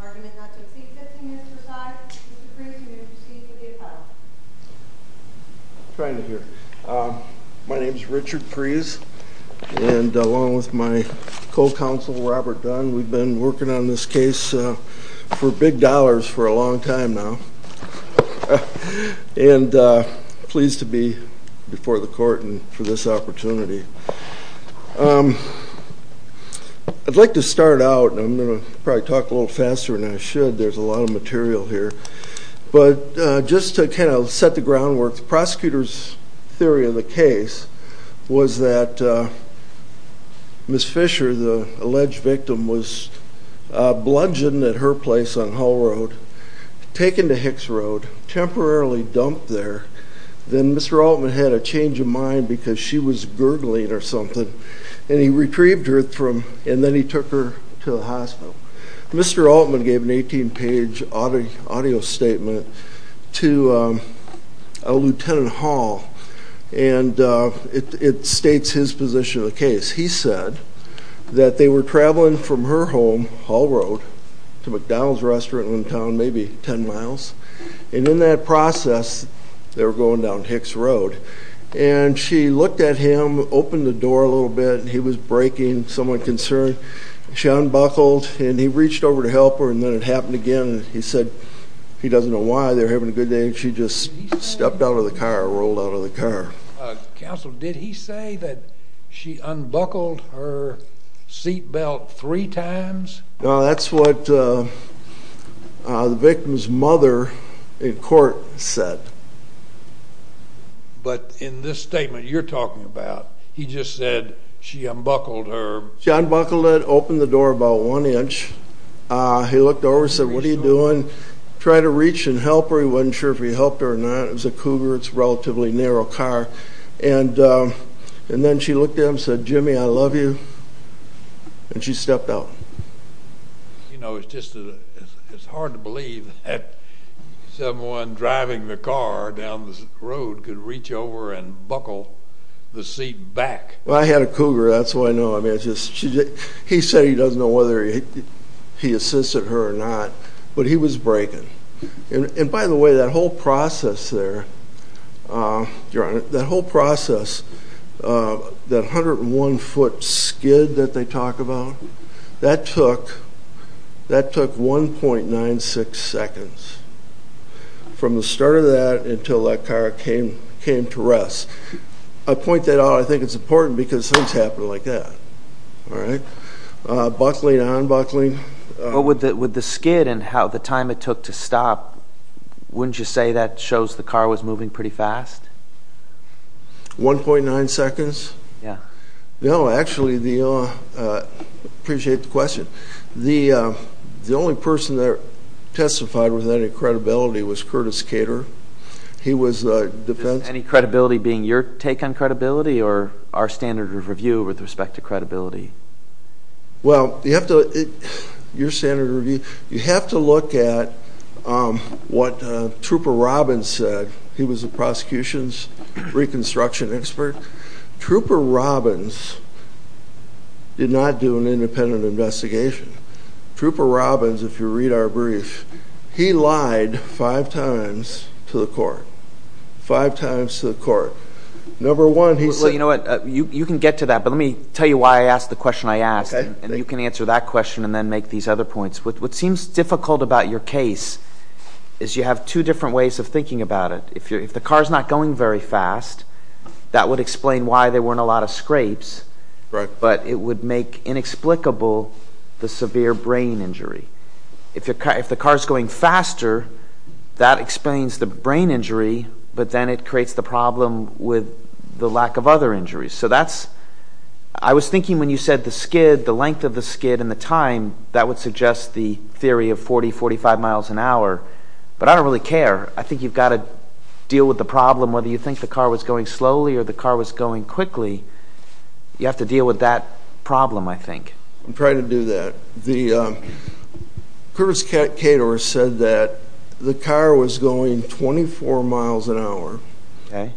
Argument not to exceed 15 minutes per side. Mr. Kreese, you may proceed to the appeal. I'm trying to hear. My name is Richard Kreese, and along with my co-counsel Robert Dunn, we've been working on this case for big dollars for a long time now. And pleased to be before the court for this opportunity. I'd like to start out, and I'm going to probably talk a little faster than I should. There's a lot of material here. But just to kind of set the groundwork, the prosecutor's theory of the case was that Ms. Fisher, the alleged victim, was bludgeoned at her place on Hull Road, taken to Hicks Road, temporarily dumped there. Then Mr. Altman had a change of mind because she was gurgling or something. And he retrieved her, and then he took her to the hospital. Mr. Altman gave an 18-page audio statement to a lieutenant Hall, and it states his position of the case. He said that they were traveling from her home, Hull Road, to McDonald's restaurant in town, maybe 10 miles. And in that process, they were going down Hicks Road. And she looked at him, opened the door a little bit, and he was braking, somewhat concerned. She unbuckled, and he reached over to help her, and then it happened again. He said he doesn't know why, they were having a good day, and she just stepped out of the car, rolled out of the car. Counsel, did he say that she unbuckled her seatbelt three times? No, that's what the victim's mother in court said. But in this statement you're talking about, he just said she unbuckled her... She unbuckled it, opened the door about one inch. He looked over and said, what are you doing? Tried to reach and help her. He wasn't sure if he helped her or not. It was a Cougar. It's a relatively narrow car. And then she looked at him and said, Jimmy, I love you, and she stepped out. You know, it's hard to believe that someone driving the car down the road could reach over and buckle the seat back. Well, I had a Cougar, that's all I know. He said he doesn't know whether he assisted her or not, but he was braking. And by the way, that whole process there, that 101 foot skid that they talk about, that took 1.96 seconds. From the start of that until that car came to rest. I point that out, I think it's important because things happen like that. Buckling, unbuckling... With the skid and the time it took to stop, wouldn't you say that shows the car was moving pretty fast? 1.9 seconds? Yeah. No, actually, I appreciate the question. The only person that testified with any credibility was Curtis Cater. Any credibility being your take on credibility or our standard of review with respect to credibility? Well, you have to look at what Trooper Robbins said. He was a prosecution's reconstruction expert. Trooper Robbins did not do an independent investigation. Trooper Robbins, if you read our brief, he lied five times to the court. Five times to the court. Well, you know what? You can get to that, but let me tell you why I asked the question I asked. And you can answer that question and then make these other points. What seems difficult about your case is you have two different ways of thinking about it. If the car's not going very fast, that would explain why there weren't a lot of scrapes. But it would make inexplicable the severe brain injury. If the car's going faster, that explains the brain injury, but then it creates the problem with the lack of other injuries. So that's – I was thinking when you said the skid, the length of the skid and the time, that would suggest the theory of 40, 45 miles an hour. But I don't really care. I think you've got to deal with the problem whether you think the car was going slowly or the car was going quickly. You have to deal with that problem, I think. I'm trying to do that. Curtis Cator said that the car was going 24 miles an hour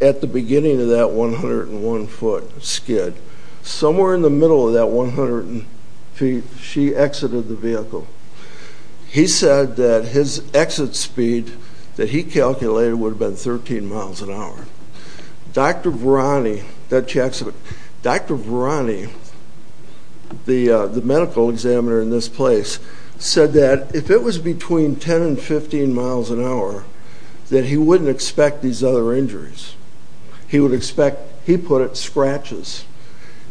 at the beginning of that 101-foot skid. Somewhere in the middle of that 100 feet, she exited the vehicle. He said that his exit speed that he calculated would have been 13 miles an hour. Dr. Varani, the medical examiner in this place, said that if it was between 10 and 15 miles an hour, that he wouldn't expect these other injuries. He would expect, he put it, scratches.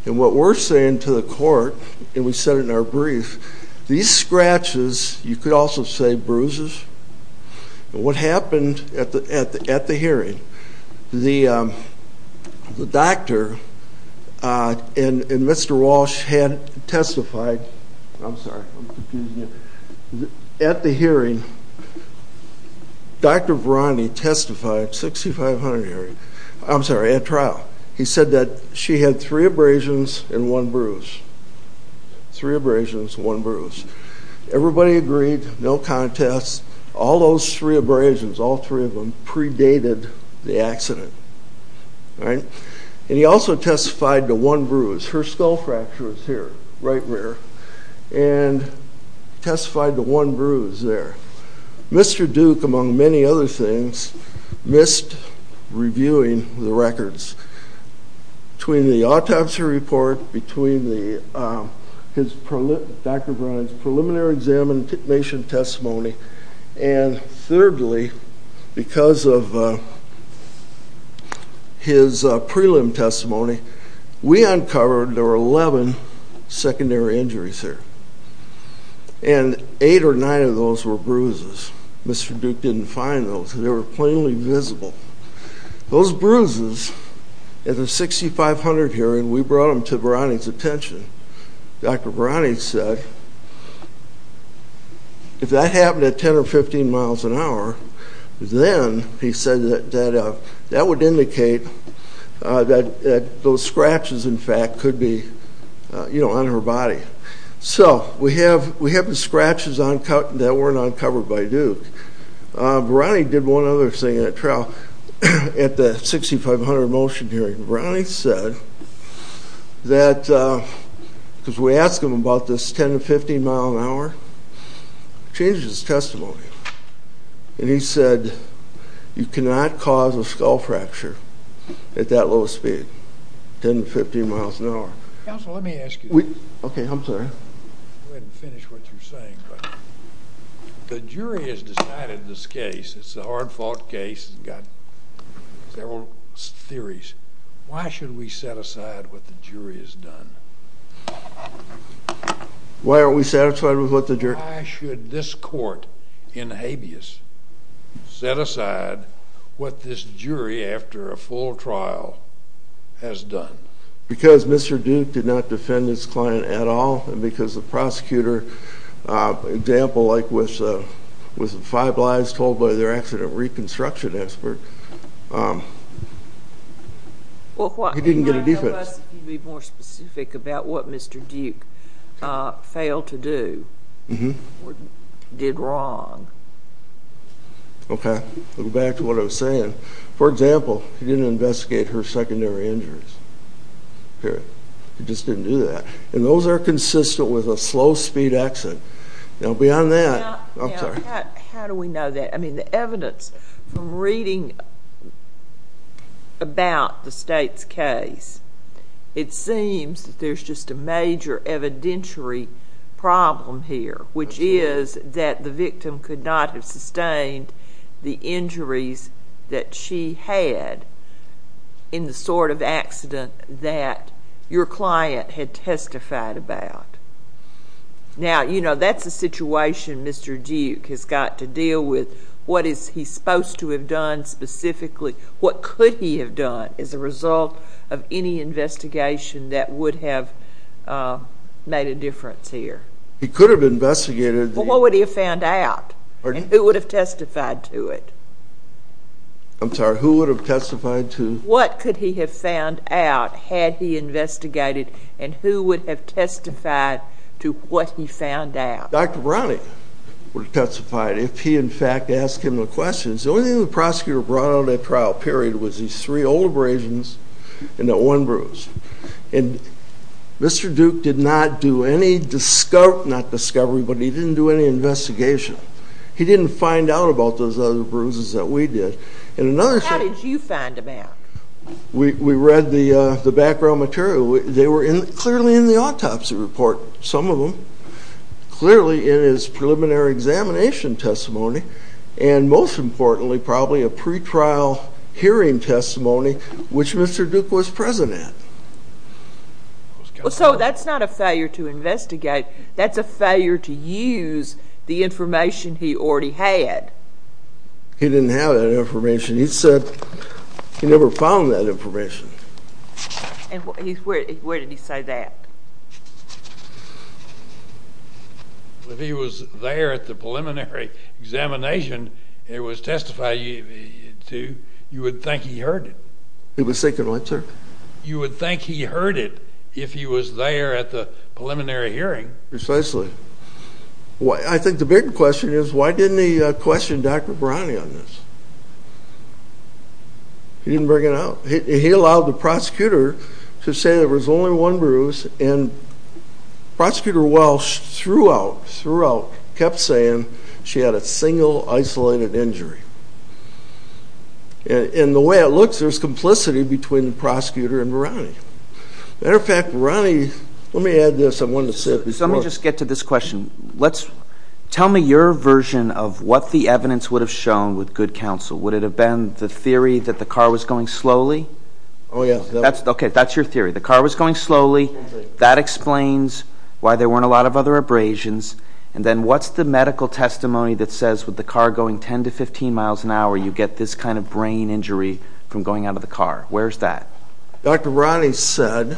And what we're saying to the court, and we said it in our brief, these scratches, you could also say bruises. What happened at the hearing, the doctor and Mr. Walsh had testified, I'm sorry, I'm confusing you. At the hearing, Dr. Varani testified, 6500 hearing, I'm sorry, at trial. He said that she had three abrasions and one bruise. Three abrasions, one bruise. Everybody agreed, no contest. All those three abrasions, all three of them, predated the accident. And he also testified to one bruise. Her skull fracture is here, right there. And testified to one bruise there. Mr. Duke, among many other things, missed reviewing the records. Between the autopsy report, between Dr. Varani's preliminary examination testimony, and thirdly, because of his prelim testimony, we uncovered there were 11 secondary injuries there. And eight or nine of those were bruises. Mr. Duke didn't find those. They were plainly visible. Those bruises at the 6500 hearing, we brought them to Varani's attention. Dr. Varani said, if that happened at 10 or 15 miles an hour, then he said that that would indicate that those scratches, in fact, could be on her body. So we have the scratches that weren't uncovered by Duke. Varani did one other thing at that trial, at the 6500 motion hearing. Varani said that, because we asked him about this 10 to 15 mile an hour, changed his testimony, and he said, you cannot cause a skull fracture at that low a speed, 10 to 15 miles an hour. Counsel, let me ask you this. Okay, I'm sorry. Go ahead and finish what you're saying. The jury has decided this case. It's a hard-fought case. It's got several theories. Why should we set aside what the jury has done? Why aren't we satisfied with what the jury has done? Why should this court in habeas set aside what this jury, after a full trial, has done? Because Mr. Duke did not defend his client at all, and because the prosecutor, an example like with the five lies told by their accident reconstruction expert, he didn't get a defense. Can you be more specific about what Mr. Duke failed to do or did wrong? Okay, I'll go back to what I was saying. For example, he didn't investigate her secondary injuries. He just didn't do that. And those are consistent with a slow-speed accident. Beyond that, I'm sorry. How do we know that? I mean, the evidence from reading about the state's case, it seems that there's just a major evidentiary problem here, which is that the victim could not have sustained the injuries that she had in the sort of accident that your client had testified about. Now, you know, that's a situation Mr. Duke has got to deal with. What is he supposed to have done specifically? What could he have done as a result of any investigation that would have made a difference here? He could have investigated. But what would he have found out? And who would have testified to it? I'm sorry. Who would have testified to it? What could he have found out had he investigated? And who would have testified to what he found out? Dr. Browning would have testified if he, in fact, asked him the questions. The only thing the prosecutor brought on that trial, period, was these three old abrasions and that one bruise. And Mr. Duke did not do any discovery, not discovery, but he didn't do any investigation. He didn't find out about those other bruises that we did. How did you find them out? We read the background material. They were clearly in the autopsy report, some of them, clearly in his preliminary examination testimony, and most importantly probably a pretrial hearing testimony, which Mr. Duke was present at. So that's not a failure to investigate. That's a failure to use the information he already had. He didn't have that information. He said he never found that information. And where did he say that? If he was there at the preliminary examination it was testified to, you would think he heard it. He was sick in winter. You would think he heard it if he was there at the preliminary hearing. Precisely. I think the big question is why didn't he question Dr. Browning on this? He didn't bring it up. He allowed the prosecutor to say there was only one bruise, and Prosecutor Welch throughout, throughout, kept saying she had a single isolated injury. And the way it looks, there's complicity between the prosecutor and Browning. As a matter of fact, Browning, let me add this. I wanted to say it before. Let me just get to this question. Tell me your version of what the evidence would have shown with good counsel. Would it have been the theory that the car was going slowly? Oh, yes. Okay, that's your theory. The car was going slowly. That explains why there weren't a lot of other abrasions. And then what's the medical testimony that says with the car going 10 to 15 miles an hour, you get this kind of brain injury from going out of the car? Where is that? Dr. Browning said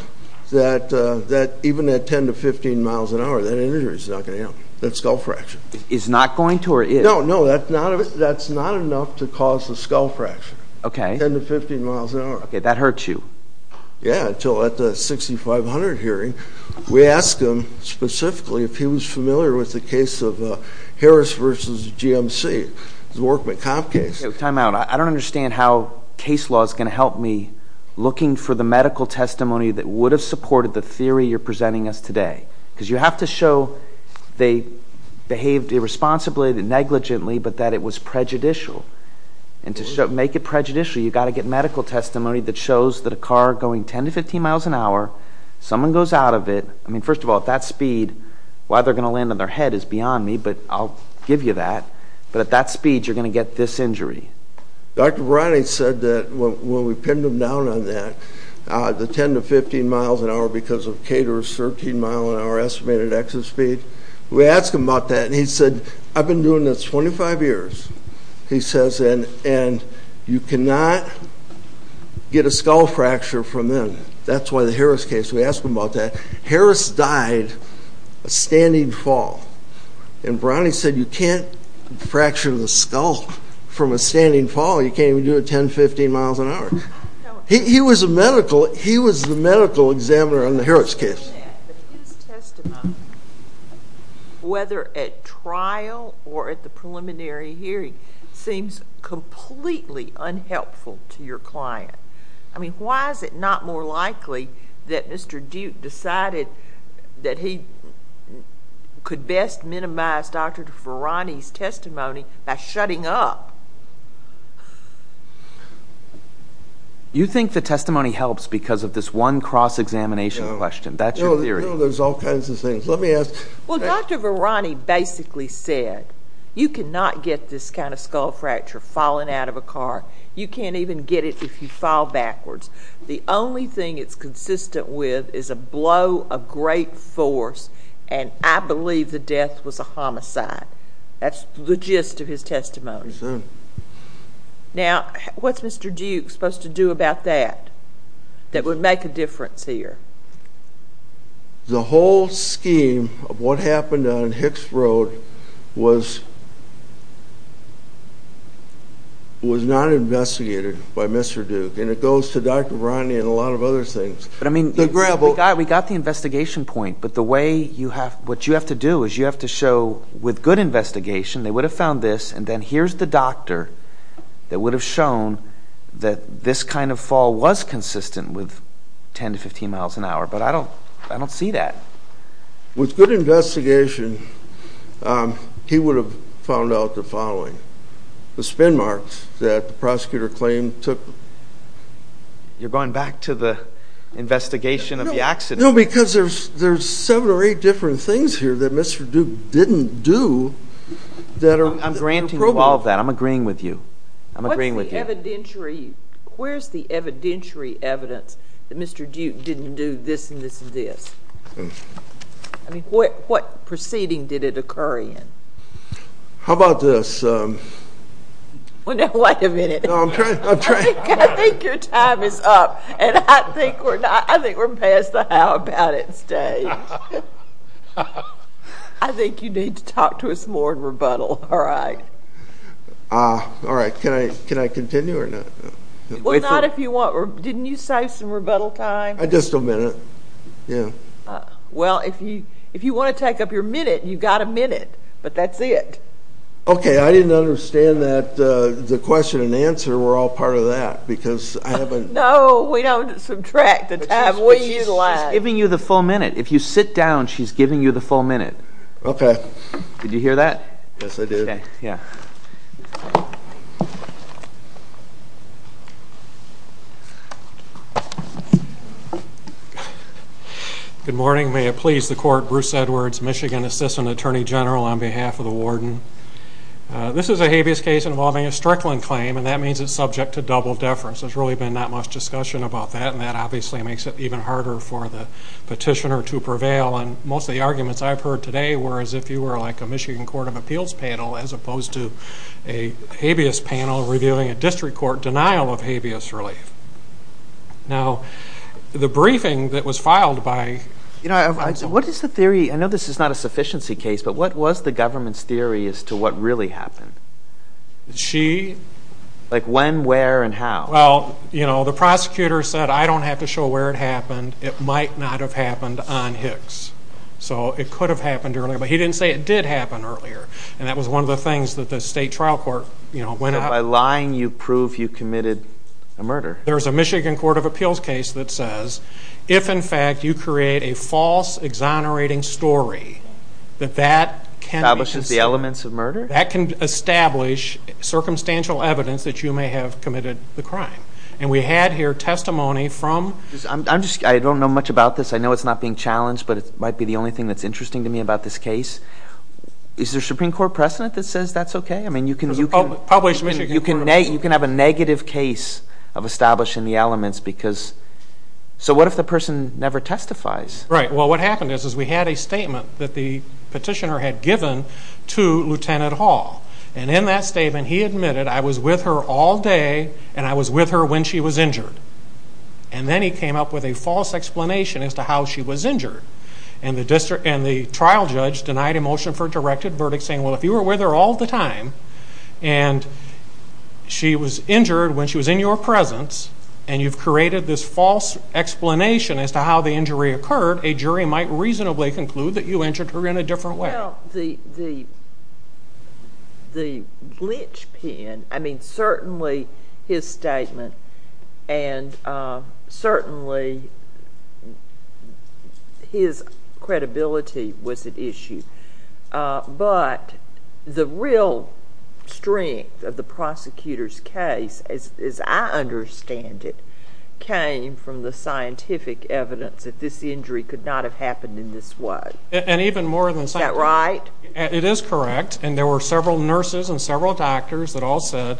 that even at 10 to 15 miles an hour, that injury is not going to help. That skull fracture. Is not going to or is? No, no, that's not enough to cause the skull fracture. Okay. 10 to 15 miles an hour. Okay, that hurts you. Yeah, until at the 6500 hearing. We asked him specifically if he was familiar with the case of Harris versus GMC, the Workman Comp case. Time out. I don't understand how case law is going to help me looking for the medical testimony that would have supported the theory you're presenting us today. Because you have to show they behaved irresponsibly, negligently, but that it was prejudicial. And to make it prejudicial, you've got to get medical testimony that shows that a car going 10 to 15 miles an hour, someone goes out of it. I mean, first of all, at that speed, why they're going to land on their head is beyond me, but I'll give you that. But at that speed, you're going to get this injury. Dr. Browning said that when we pinned him down on that, the 10 to 15 miles an hour because of Cater's 13 mile an hour estimated exit speed. We asked him about that, and he said, I've been doing this 25 years. He says, and you cannot get a skull fracture from them. That's why the Harris case, we asked him about that. Harris died a standing fall. And Browning said, you can't fracture the skull from a standing fall. You can't even do it 10 to 15 miles an hour. He was the medical examiner on the Harris case. But his testimony, whether at trial or at the preliminary hearing, seems completely unhelpful to your client. I mean, why is it not more likely that Mr. Duke decided that he could best minimize Dr. Varani's testimony by shutting up? You think the testimony helps because of this one cross-examination question. That's your theory. No, there's all kinds of things. Let me ask. Well, Dr. Varani basically said, you cannot get this kind of skull fracture falling out of a car. You can't even get it if you fall backwards. The only thing it's consistent with is a blow of great force, and I believe the death was a homicide. That's the gist of his testimony. Now, what's Mr. Duke supposed to do about that that would make a difference here? The whole scheme of what happened on Hicks Road was not investigated by Mr. Duke, and it goes to Dr. Varani and a lot of other things. But, I mean, we got the investigation point, but what you have to do is you have to show with good investigation they would have found this, and then here's the doctor that would have shown that this kind of fall was consistent with 10 to 15 miles an hour. But I don't see that. With good investigation, he would have found out the following, the spin marks that the prosecutor claimed took. You're going back to the investigation of the accident. No, because there's seven or eight different things here that Mr. Duke didn't do. I'm granting you all of that. I'm agreeing with you. I'm agreeing with you. Where's the evidentiary evidence that Mr. Duke didn't do this and this and this? I mean, what proceeding did it occur in? How about this? Wait a minute. I think your time is up, and I think we're past the how about it stage. I think you need to talk to us more in rebuttal, all right? All right. Can I continue or not? Well, not if you want. Didn't you say some rebuttal time? Just a minute, yeah. Well, if you want to take up your minute, you've got a minute, but that's it. Okay. I didn't understand that the question and answer were all part of that because I haven't. No, we don't subtract the time. She's giving you the full minute. If you sit down, she's giving you the full minute. Okay. Did you hear that? Yes, I did. Okay, yeah. Good morning. May it please the Court, Bruce Edwards, Michigan Assistant Attorney General on behalf of the Warden. This is a habeas case involving a Strickland claim, and that means it's subject to double deference. There's really been not much discussion about that, and that obviously makes it even harder for the petitioner to prevail. And most of the arguments I've heard today were as if you were like a Michigan Court of Appeals panel as opposed to a habeas panel reviewing a district court denial of habeas relief. Now, the briefing that was filed by- You know, what is the theory? I know this is not a sufficiency case, but what was the government's theory as to what really happened? She- Like when, where, and how? Well, you know, the prosecutor said, I don't have to show where it happened. It might not have happened on Hicks. So it could have happened earlier, but he didn't say it did happen earlier, and that was one of the things that the state trial court, you know, went out- By lying, you prove you committed a murder. There's a Michigan Court of Appeals case that says if, in fact, you create a false, exonerating story, that that can be considered- Establishes the elements of murder? That can establish circumstantial evidence that you may have committed the crime. And we had here testimony from- I'm just- I don't know much about this. I know it's not being challenged, but it might be the only thing that's interesting to me about this case. Is there a Supreme Court precedent that says that's okay? I mean, you can- Published Michigan Court of Appeals. You can have a negative case of establishing the elements because- So what if the person never testifies? Right. Well, what happened is we had a statement that the petitioner had given to Lieutenant Hall, and in that statement, he admitted, I was with her all day, and I was with her when she was injured. And then he came up with a false explanation as to how she was injured. And the trial judge denied a motion for a directed verdict, saying, well, if you were with her all the time, and she was injured when she was in your presence, and you've created this false explanation as to how the injury occurred, a jury might reasonably conclude that you injured her in a different way. Well, the linchpin, I mean, certainly his statement and certainly his credibility was at issue. But the real strength of the prosecutor's case, as I understand it, came from the scientific evidence that this injury could not have happened in this way. And even more than- Is that right? It is correct. And there were several nurses and several doctors that all said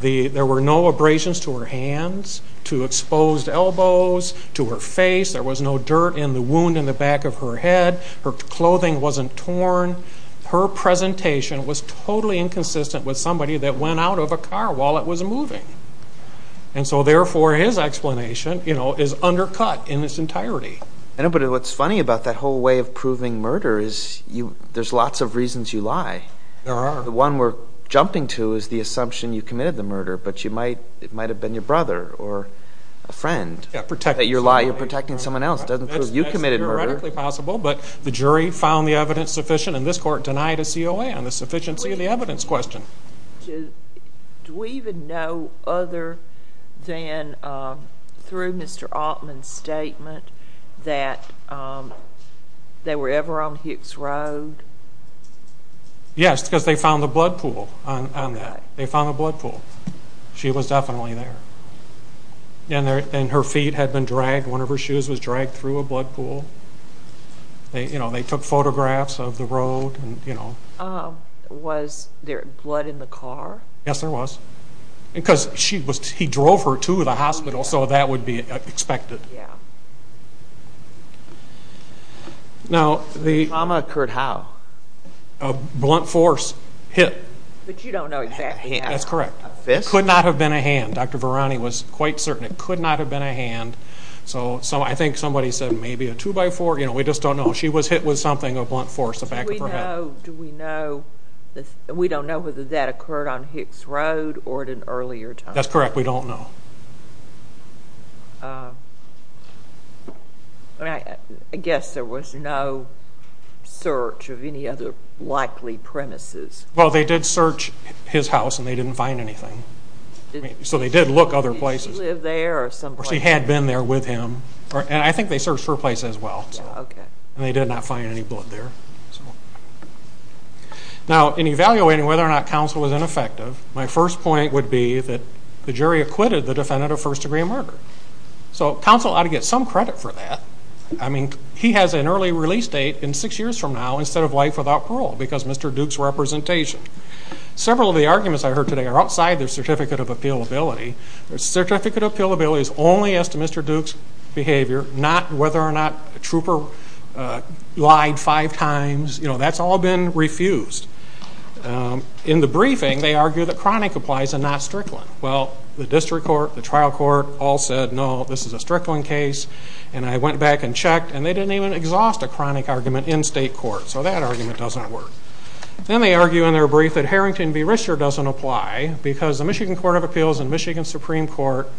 there were no abrasions to her hands, to exposed elbows, to her face. There was no dirt in the wound in the back of her head. Her clothing wasn't torn. Her presentation was totally inconsistent with somebody that went out of a car while it was moving. And so, therefore, his explanation, you know, is undercut in its entirety. I know, but what's funny about that whole way of proving murder is there's lots of reasons you lie. There are. The one we're jumping to is the assumption you committed the murder, but it might have been your brother or a friend that you're lying. You're protecting someone else. It doesn't prove you committed murder. That's theoretically possible, but the jury found the evidence sufficient, and this court denied a COA on the sufficiency of the evidence question. Do we even know other than through Mr. Altman's statement that they were ever on Hicks Road? Yes, because they found the blood pool on that. They found the blood pool. She was definitely there. And her feet had been dragged. One of her shoes was dragged through a blood pool. They took photographs of the road. Was there blood in the car? Yes, there was. Because he drove her to the hospital, so that would be expected. Trauma occurred how? A blunt force hit. But you don't know exactly how. That's correct. A fist? Could not have been a hand. Dr. Varani was quite certain it could not have been a hand. So I think somebody said maybe a two-by-four. We just don't know. She was hit with something, a blunt force, the back of her head. We don't know whether that occurred on Hicks Road or at an earlier time. That's correct. We don't know. I guess there was no search of any other likely premises. Well, they did search his house, and they didn't find anything. So they did look other places. Did she live there or someplace else? She had been there with him. And I think they searched her place as well. Okay. And they did not find any blood there. Now, in evaluating whether or not counsel was ineffective, my first point would be that the jury acquitted the defendant of first-degree murder. So counsel ought to get some credit for that. I mean, he has an early release date in six years from now instead of life without parole because of Mr. Duke's representation. Several of the arguments I heard today are outside their certificate of appealability. Their certificate of appealability is only as to Mr. Duke's behavior, not whether or not a trooper lied five times. You know, that's all been refused. In the briefing, they argue that chronic applies and not Strickland. Well, the district court, the trial court all said, no, this is a Strickland case. And I went back and checked, and they didn't even exhaust a chronic argument in state court. So that argument doesn't work. Then they argue in their brief that Harrington v. Rischer doesn't apply because the Michigan Court of Appeals and Michigan Supreme Court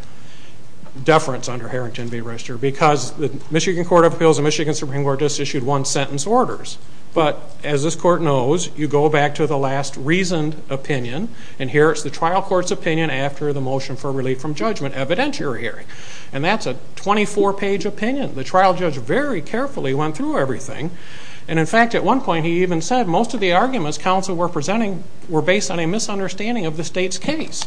deference under Harrington v. Rischer because the Michigan Court of Appeals and Michigan Supreme Court just issued one-sentence orders. But as this court knows, you go back to the last reasoned opinion, and here it's the trial court's opinion after the motion for relief from judgment evidentiary hearing. And that's a 24-page opinion. The trial judge very carefully went through everything. And, in fact, at one point he even said most of the arguments counsel were presenting were based on a misunderstanding of the state's case.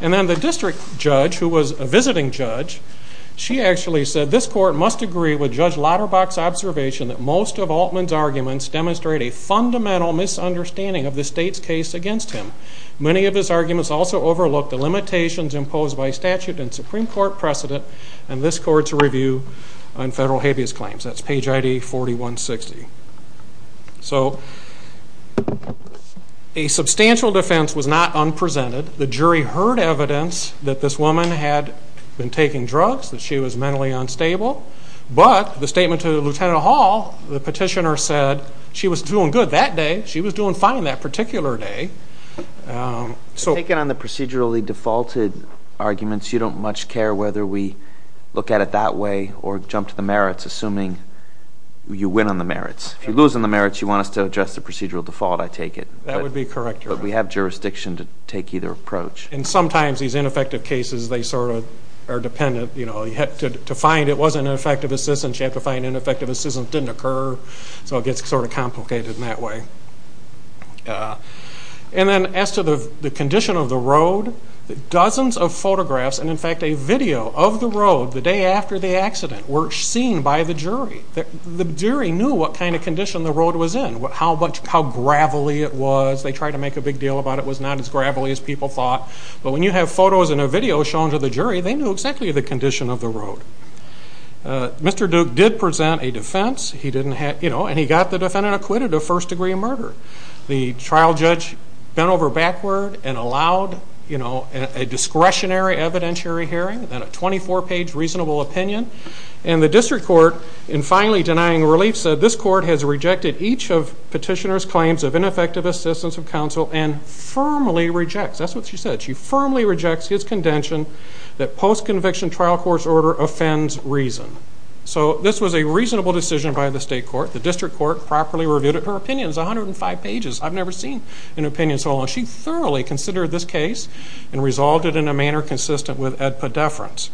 And then the district judge, who was a visiting judge, she actually said this court must agree with Judge Lauterbach's observation that most of Altman's arguments demonstrate a fundamental misunderstanding of the state's case against him. Many of his arguments also overlook the limitations imposed by statute and Supreme Court precedent in this court's review on federal habeas claims. That's page ID 4160. So a substantial defense was not unpresented. The jury heard evidence that this woman had been taking drugs, that she was mentally unstable. But the statement to Lieutenant Hall, the petitioner said she was doing good that day. She was doing fine that particular day. Taking on the procedurally defaulted arguments, you don't much care whether we look at it that way or jump to the merits, assuming you win on the merits. If you lose on the merits, you want us to address the procedural default, I take it. That would be correct, Your Honor. But we have jurisdiction to take either approach. And sometimes these ineffective cases, they sort of are dependent. You know, to find it wasn't an effective assistance, you have to find ineffective assistance didn't occur. So it gets sort of complicated in that way. And then as to the condition of the road, dozens of photographs, and, in fact, a video of the road the day after the accident were seen by the jury. The jury knew what kind of condition the road was in, how gravelly it was. They tried to make a big deal about it was not as gravelly as people thought. But when you have photos and a video shown to the jury, they knew exactly the condition of the road. Mr. Duke did present a defense. And he got the defendant acquitted of first-degree murder. The trial judge bent over backward and allowed a discretionary evidentiary hearing and a 24-page reasonable opinion. And the district court, in finally denying relief, said this court has rejected each of petitioner's claims of ineffective assistance of counsel and firmly rejects. That's what she said. She firmly rejects his condition that post-conviction trial court's order offends reason. So this was a reasonable decision by the state court. The district court properly reviewed it. Her opinion is 105 pages. I've never seen an opinion so long. She thoroughly considered this case and resolved it in a manner consistent with Ed Poddeference.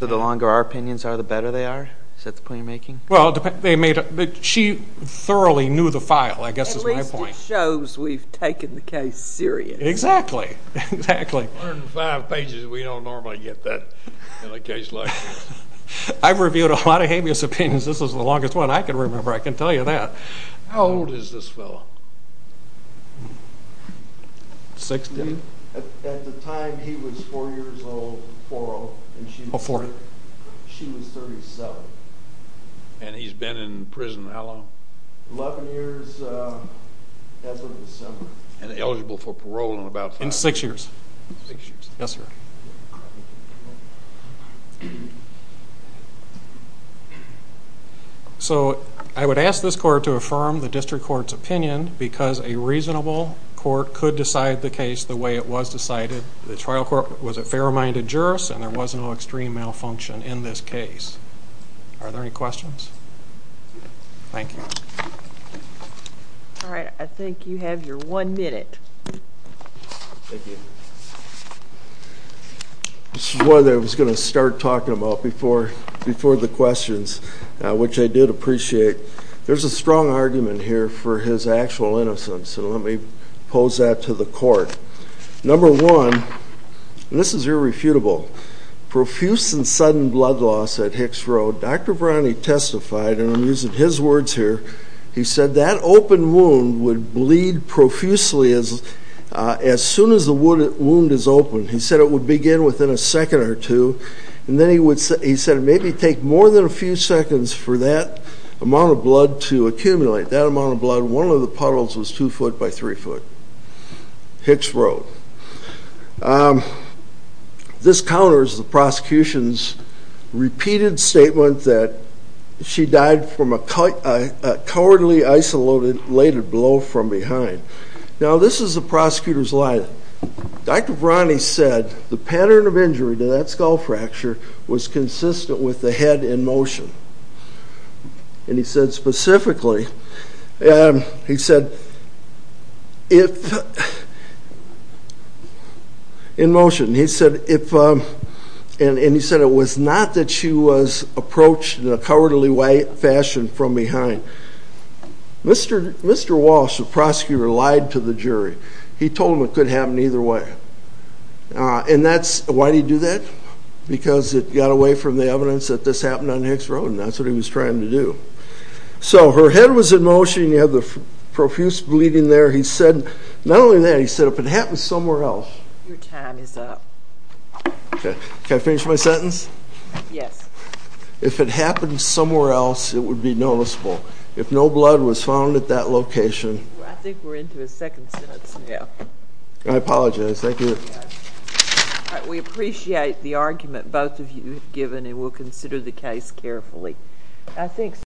So the longer our opinions are, the better they are? Is that the point you're making? Well, she thoroughly knew the file, I guess is my point. At least it shows we've taken the case serious. Exactly, exactly. 105 pages, we don't normally get that in a case like this. I've reviewed a lot of habeas opinions. This is the longest one I can remember, I can tell you that. How old is this fellow? At the time he was 4 years old, she was 37. And he's been in prison how long? 11 years as of December. And eligible for parole in about five years? In six years. Six years. Yes, sir. Thank you. So I would ask this court to affirm the district court's opinion because a reasonable court could decide the case the way it was decided. The trial court was a fair-minded jurist, and there was no extreme malfunction in this case. Are there any questions? Thank you. All right, I think you have your one minute. Thank you. This is one that I was going to start talking about before the questions, which I did appreciate. There's a strong argument here for his actual innocence, and let me pose that to the court. Number one, and this is irrefutable, profuse and sudden blood loss at Hicks Road, Dr. Brownie testified, and I'm using his words here, he said that open wound would bleed profusely as soon as the wound is open. He said it would begin within a second or two, and then he said it would maybe take more than a few seconds for that amount of blood to accumulate. That amount of blood in one of the puddles was two foot by three foot. Hicks Road. This counters the prosecution's repeated statement that she died from a cowardly isolated blow from behind. Now, this is the prosecutor's line. Dr. Brownie said the pattern of injury to that skull fracture was consistent with the head in motion. And he said specifically, he said if, in motion, he said if, and he said it was not that she was approached in a cowardly fashion from behind. Mr. Walsh, the prosecutor, lied to the jury. He told them it could happen either way. And that's, why did he do that? Because it got away from the evidence that this happened on Hicks Road, and that's what he was trying to do. So her head was in motion. You have the profuse bleeding there. He said, not only that, he said if it happened somewhere else. Your time is up. Can I finish my sentence? Yes. If it happened somewhere else, it would be noticeable. If no blood was found at that location. I think we're into his second sentence now. I apologize. Thank you. We appreciate the argument both of you have given, and we'll consider the case carefully.